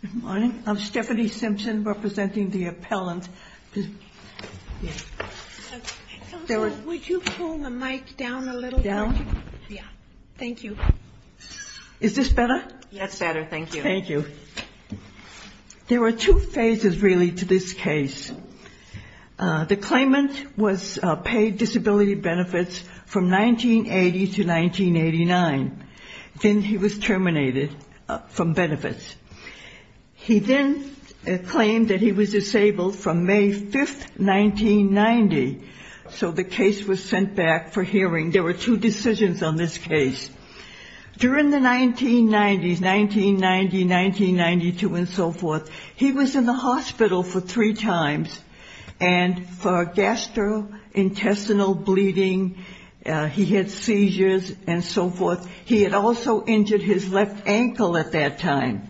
Good morning. I'm Stephanie Simpson, representing the Appellate Counsel. There were two phases really to this case. The claimant was paid disability benefits from 1980 to 1989. Then he was terminated from benefits. He then claimed that he was disabled from May 5, 1990. So the case was sent back for hearing. There were two decisions on this case. During the 1990s, 1990, 1992 and so forth, he was in the hospital for three times and for gastrointestinal bleeding, he had seizures and so forth. He had also injured his left ankle at that time.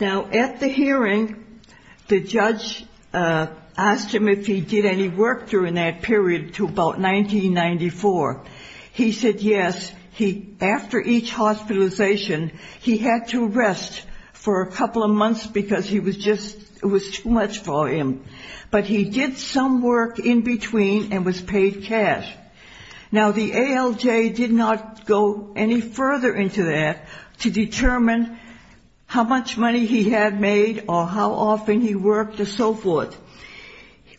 Now, at the hearing, the judge asked him if he did any work during that period to about 1994. He said yes. After each hospitalization, he had to rest for a couple of months because it was too much for him. But he did some work in between and was paid cash. Now, the ALJ did not go any further into that to determine how much money he had made or how often he worked and so forth.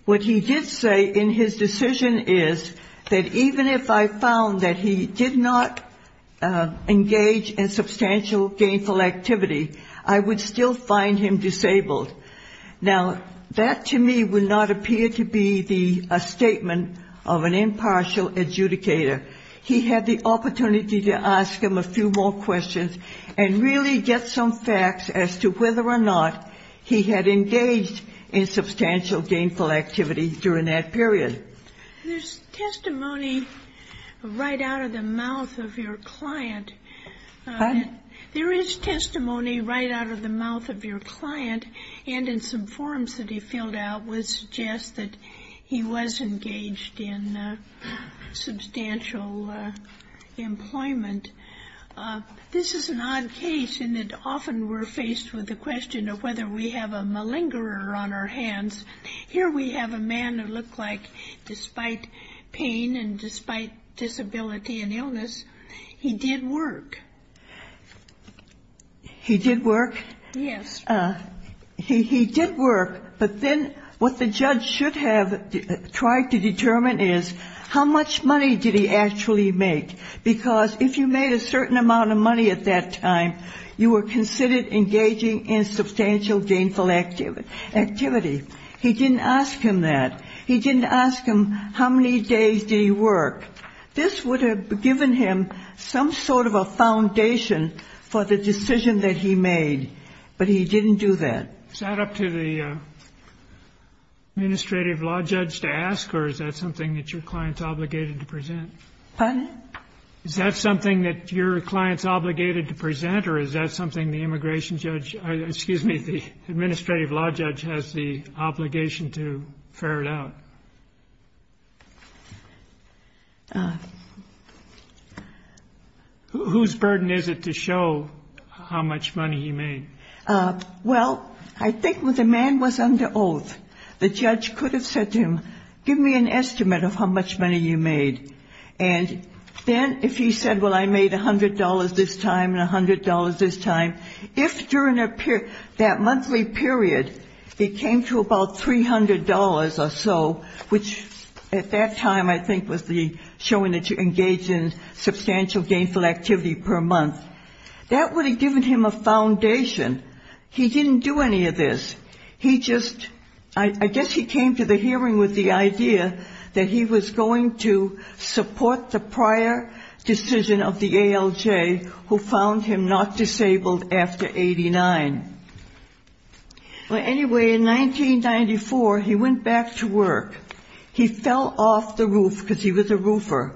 What he did say in his decision is that even if I found that he did not engage in substantial gainful activity, I would still find him disabled. Now, that to me would not appear to be a statement of an impartial adjudicator. He had the opportunity to ask him a few more questions and really get some facts as to whether or not he had engaged in substantial gainful activity during that period. There's testimony right out of the mouth of your client. Pardon? There is testimony right out of the mouth of your client and in some forms that he filled out would suggest that he was engaged in substantial employment. This is an odd case in that often we're faced with the question of whether we have a malingerer on our hands. Here we have a man who looked like, despite pain and despite disability and illness, he did work. He did work? Yes. He did work, but then what the judge should have tried to determine is how much money did he actually make, because if you made a certain amount of money at that time, you were considered engaging in substantial gainful activity. He didn't ask him that. He didn't ask him how many days did he work. This would have given him some sort of a foundation for the decision that he made, but he didn't do that. Is that up to the administrative law judge to ask, or is that something that your client's obligated to present? Pardon? Is that something that your client's obligated to present, or is that something the immigration judge or, excuse me, the administrative law judge has the obligation to ferret out? Whose burden is it to show how much money he made? Well, I think the man was under oath. The judge could have said to him, give me an estimate of how much money you made, and then if he said, well, I made $100 this time and $100 this time, if during that monthly period it came to about $300 or so, which at that time I think was the showing that you engaged in substantial gainful activity per month, that would have given him a foundation. He didn't do any of this. He just, I guess he came to the hearing with the idea that he was going to support the prior decision of the ALJ, who found him not disabled after 89. Well, anyway, in 1994, he went back to work. He fell off the roof because he was a roofer,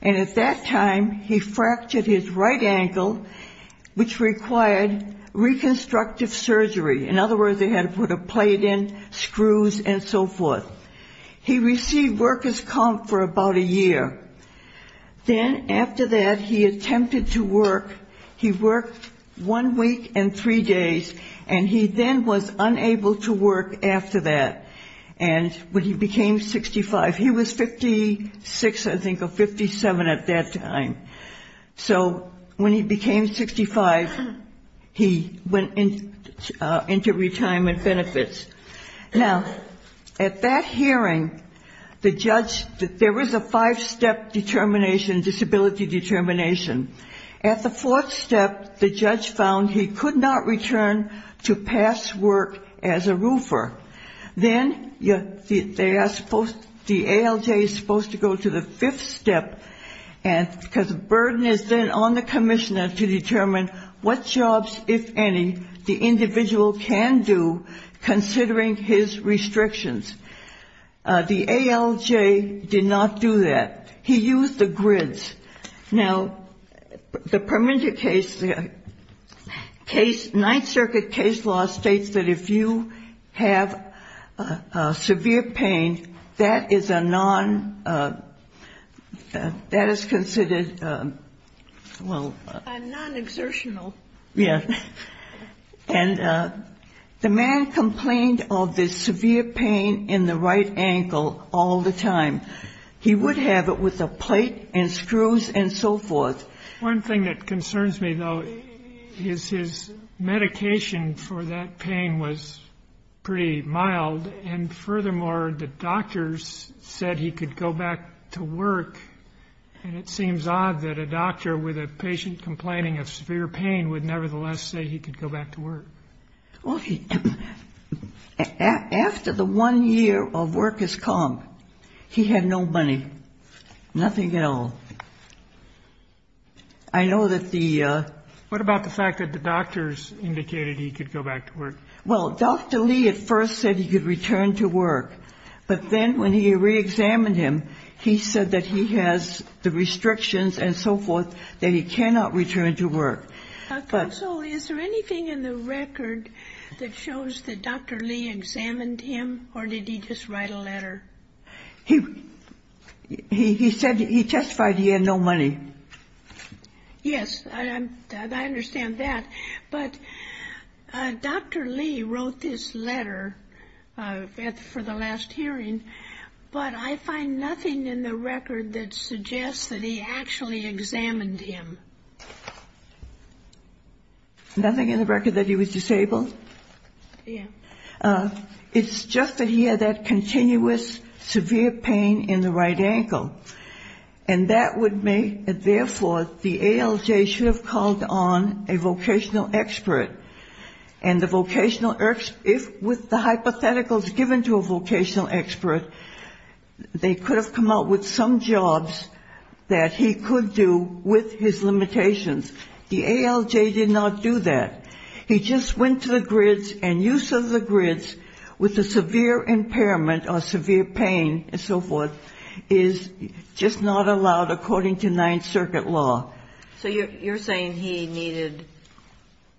and at that time he fractured his right ankle, which required reconstructive surgery. In He received worker's comp for about a year. Then after that, he attempted to work. He worked one week and three days, and he then was unable to work after that. And when he became 65, he was 56, I think, or 57 at that time. So when he became 65, he went into retirement benefits. Now, at that hearing, the judge, there was a five-step determination, disability determination. At the fourth step, the judge found he could not return to past work as a roofer. Then the ALJ is supposed to go to the fifth step, because the burden is then on the commissioner to determine what jobs, if any, the individual can do considering his restrictions. The ALJ did not do that. He used the grids. Now, the Permanente case, the Ninth Circuit case law states that if you have severe pain, that is a non, that is considered, well, a non-exertional. Yeah. And the man complained of the severe pain in the right ankle all the time. He would have it with a plate and screws and so forth. One thing that concerns me, though, is his medication for that pain was pretty mild. And furthermore, the doctors said he could go back to work. And it seems odd that a doctor with a patient complaining of severe pain would nevertheless say he could go back to work. Well, after the one year of work has come, he had no money, nothing at all. I know that the ---- What about the fact that the doctors indicated he could go back to work? Well, Dr. Lee at first said he could return to work. But then when he reexamined him, he said that he has the restrictions and so forth that he cannot return to work. Counsel, is there anything in the record that shows that Dr. Lee examined him or did he just write a letter? He said he testified he had no money. Yes, I understand that. But Dr. Lee wrote this letter for the last hearing, but I find nothing in the record that suggests that he actually examined him. Nothing in the record that he was disabled? Yeah. It's just that he had that continuous severe pain in the right ankle. And that would make it, therefore, the ALJ should have called on a vocational expert. And the vocational expert, if with the hypotheticals given to a vocational expert, they could have come up with some jobs that he could do with his limitations. The ALJ did not do that. He just went to the grids and use of the grids with the severe impairment or severe pain and so forth is just not allowed according to Ninth Circuit law. So you're saying he needed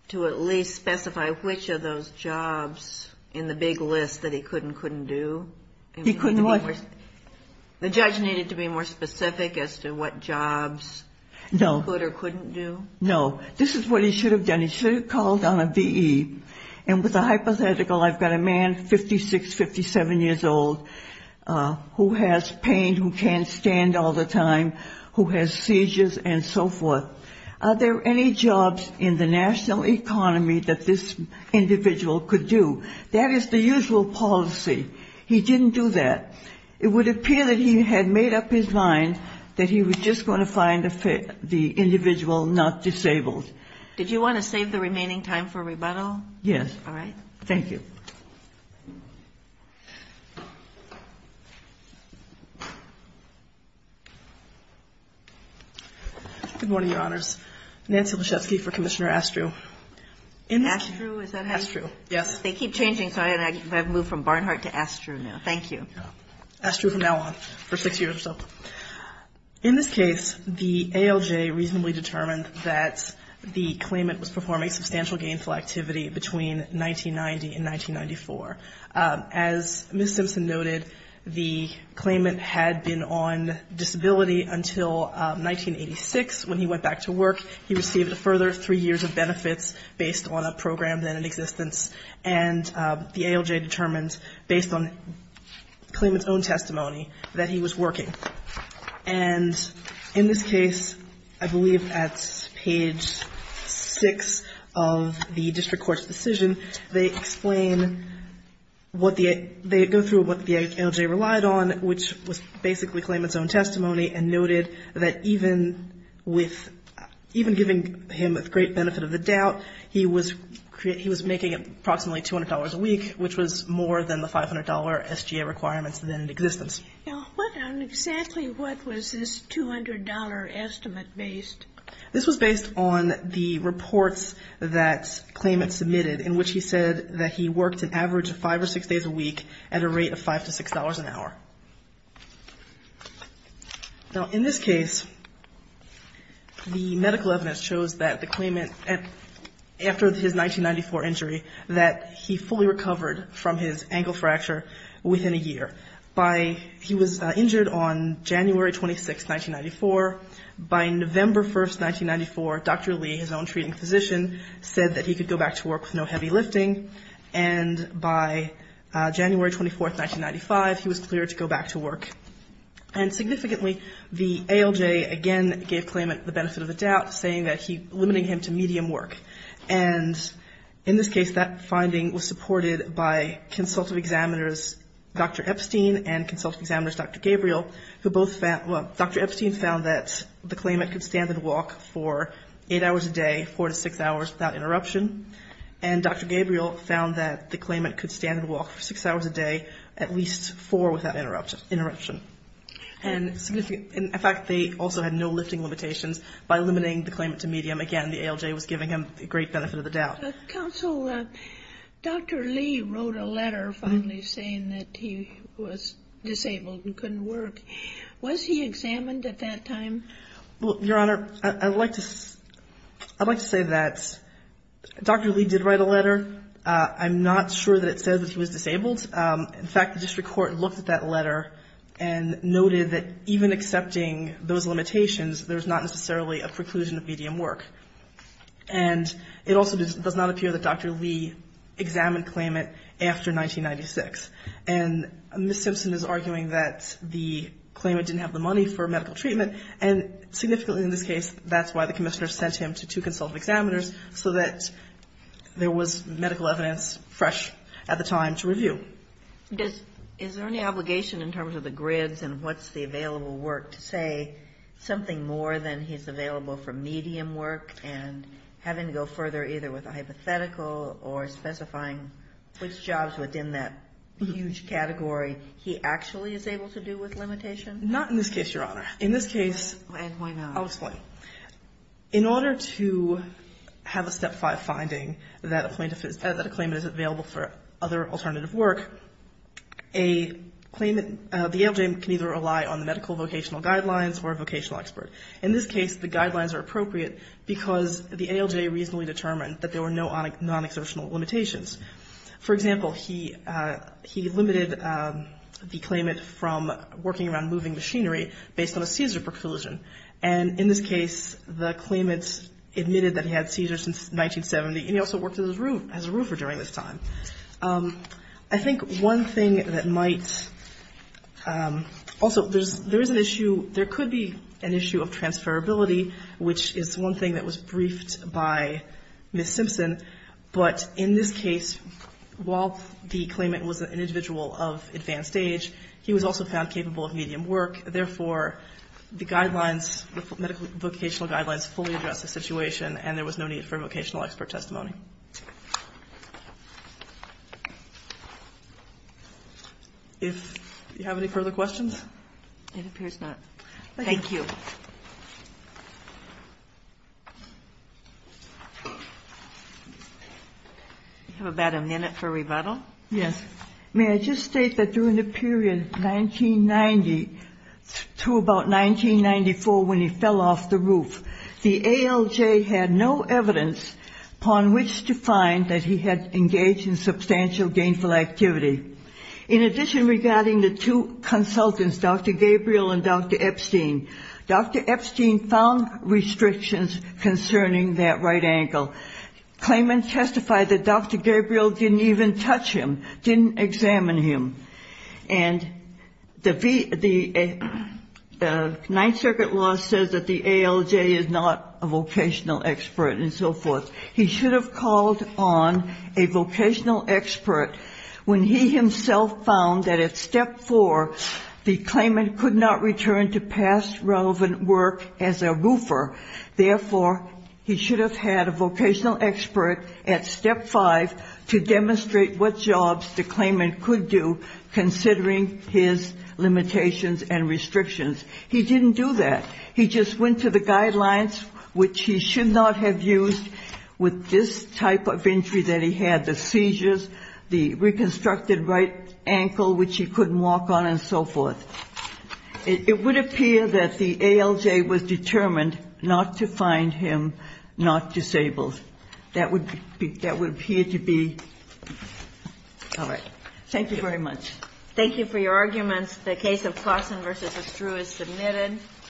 to at least specify which of those jobs in the big list that he could and couldn't do? He couldn't what? The judge needed to be more specific as to what jobs he could or couldn't do? No. This is what he should have done. He should have called on a V.E. And with the hypothetical, I've got a man, 56, 57 years old, who has pain, who can't stand all the time, who has seizures and so forth. Are there any jobs in the national economy that this individual could do? That is the usual policy. He didn't do that. It would appear that he had made up his mind that he was just going to find the individual not disabled. Did you want to save the remaining time for rebuttal? Yes. All right. Thank you. Good morning, Your Honors. Nancy Leshevsky for Commissioner Astru. Astru, is that how you? Astru, yes. They keep changing, so I've moved from Barnhart to Astru now. Thank you. Astru from now on for six years or so. In this case, the ALJ reasonably determined that the claimant was performing substantial gainful activity between 1990 and 1994. As Ms. Simpson noted, the claimant had been on disability until 1986 when he went back to work. He received a further three years of benefits based on a program then in existence. And the ALJ determined based on the claimant's own testimony that he was working. And in this case, I believe at page six of the district court's decision, they explain what the ALJ relied on, which was basically the claimant's own testimony and noted that even giving him a great benefit of the doubt, he was making approximately $200 a week, which was more than the $500 SGA requirements then in existence. Now, what on exactly what was this $200 estimate based? This was based on the reports that claimant submitted in which he said that he worked an average of five or six days a week at a rate of $5 to $6 an hour. Now, in this case, the medical evidence shows that the claimant, after his 1994 injury, that he fully recovered from his ankle fracture within a year. By he was injured on January 26th, 1994. By November 1st, 1994, Dr. Lee, his own treating physician, said that he could go back to work with no heavy lifting. And by January 24th, 1995, he was cleared to go back to work. And significantly, the ALJ again gave claimant the benefit of the doubt, saying that limiting him to medium work. And in this case, that finding was supported by consultative examiners Dr. Epstein and consultative examiners Dr. Gabriel, who both found, well, Dr. Epstein found that the claimant could stand and walk for eight hours a day, four to six hours without interruption. And Dr. Gabriel found that the claimant could stand and walk for six hours a day, at least four without interruption. And in fact, they also had no lifting limitations by limiting the claimant to medium. Again, the ALJ was giving him a great benefit of the doubt. Counsel, Dr. Lee wrote a letter finally saying that he was disabled and couldn't work. Was he examined at that time? Well, Your Honor, I'd like to say that Dr. Lee did write a letter. I'm not sure that it says that he was disabled. In fact, the district court looked at that letter and noted that even accepting those limitations, there's not necessarily a preclusion of medium work. And it also does not appear that Dr. Lee examined claimant after 1996. And Ms. Simpson is arguing that the claimant didn't have the money for medical treatment. And significantly in this case, that's why the commissioner sent him to two consultative examiners, so that there was medical evidence fresh at the time to review. Is there any obligation in terms of the grids and what's the available work to say something more than he's available for medium work and having to go further either with a hypothetical or specifying which jobs within that huge category he actually is able to do with limitation? Not in this case, Your Honor. In this case, I'll explain. And why not? In order to have a Step 5 finding that a claimant is available for other alternative work, a claimant, the ALJ can either rely on the medical vocational guidelines or a vocational expert. In this case, the guidelines are appropriate because the ALJ reasonably determined that there were no non-exertional limitations. For example, he limited the claimant from working around moving machinery based on a seizure preclusion. And in this case, the claimant admitted that he had seizures since 1970, and he also worked as a roofer during this time. I think one thing that might also, there is an issue, there could be an issue of transferability, which is one thing that was briefed by Ms. Simpson. But in this case, while the claimant was an individual of advanced age, he was also found capable of medical vocational guidelines fully address the situation, and there was no need for vocational expert testimony. If you have any further questions? It appears not. Thank you. We have about a minute for rebuttal. Yes. May I just state that during the period 1990 to about 1994, when he fell off the roof, the ALJ had no evidence upon which to find that he had engaged in substantial gainful activity. In addition, regarding the two consultants, Dr. Gabriel and Dr. Epstein, Dr. Epstein found restrictions concerning that right ankle. Claimants testified that Dr. Epstein did not examine him. And the Ninth Circuit law says that the ALJ is not a vocational expert and so forth. He should have called on a vocational expert when he himself found that at step four the claimant could not return to past relevant work as a roofer. Therefore, he should have had a vocational expert at step five to demonstrate what jobs the claimant could do considering his limitations and restrictions. He didn't do that. He just went to the guidelines, which he should not have used with this type of injury that he had, the seizures, the reconstructed right ankle, which he couldn't walk on and so forth. It would appear that the ALJ was determined not to find him not disabled. That would appear to be. All right. Thank you very much. Thank you for your arguments. The case of Claussen v. Estrue is submitted.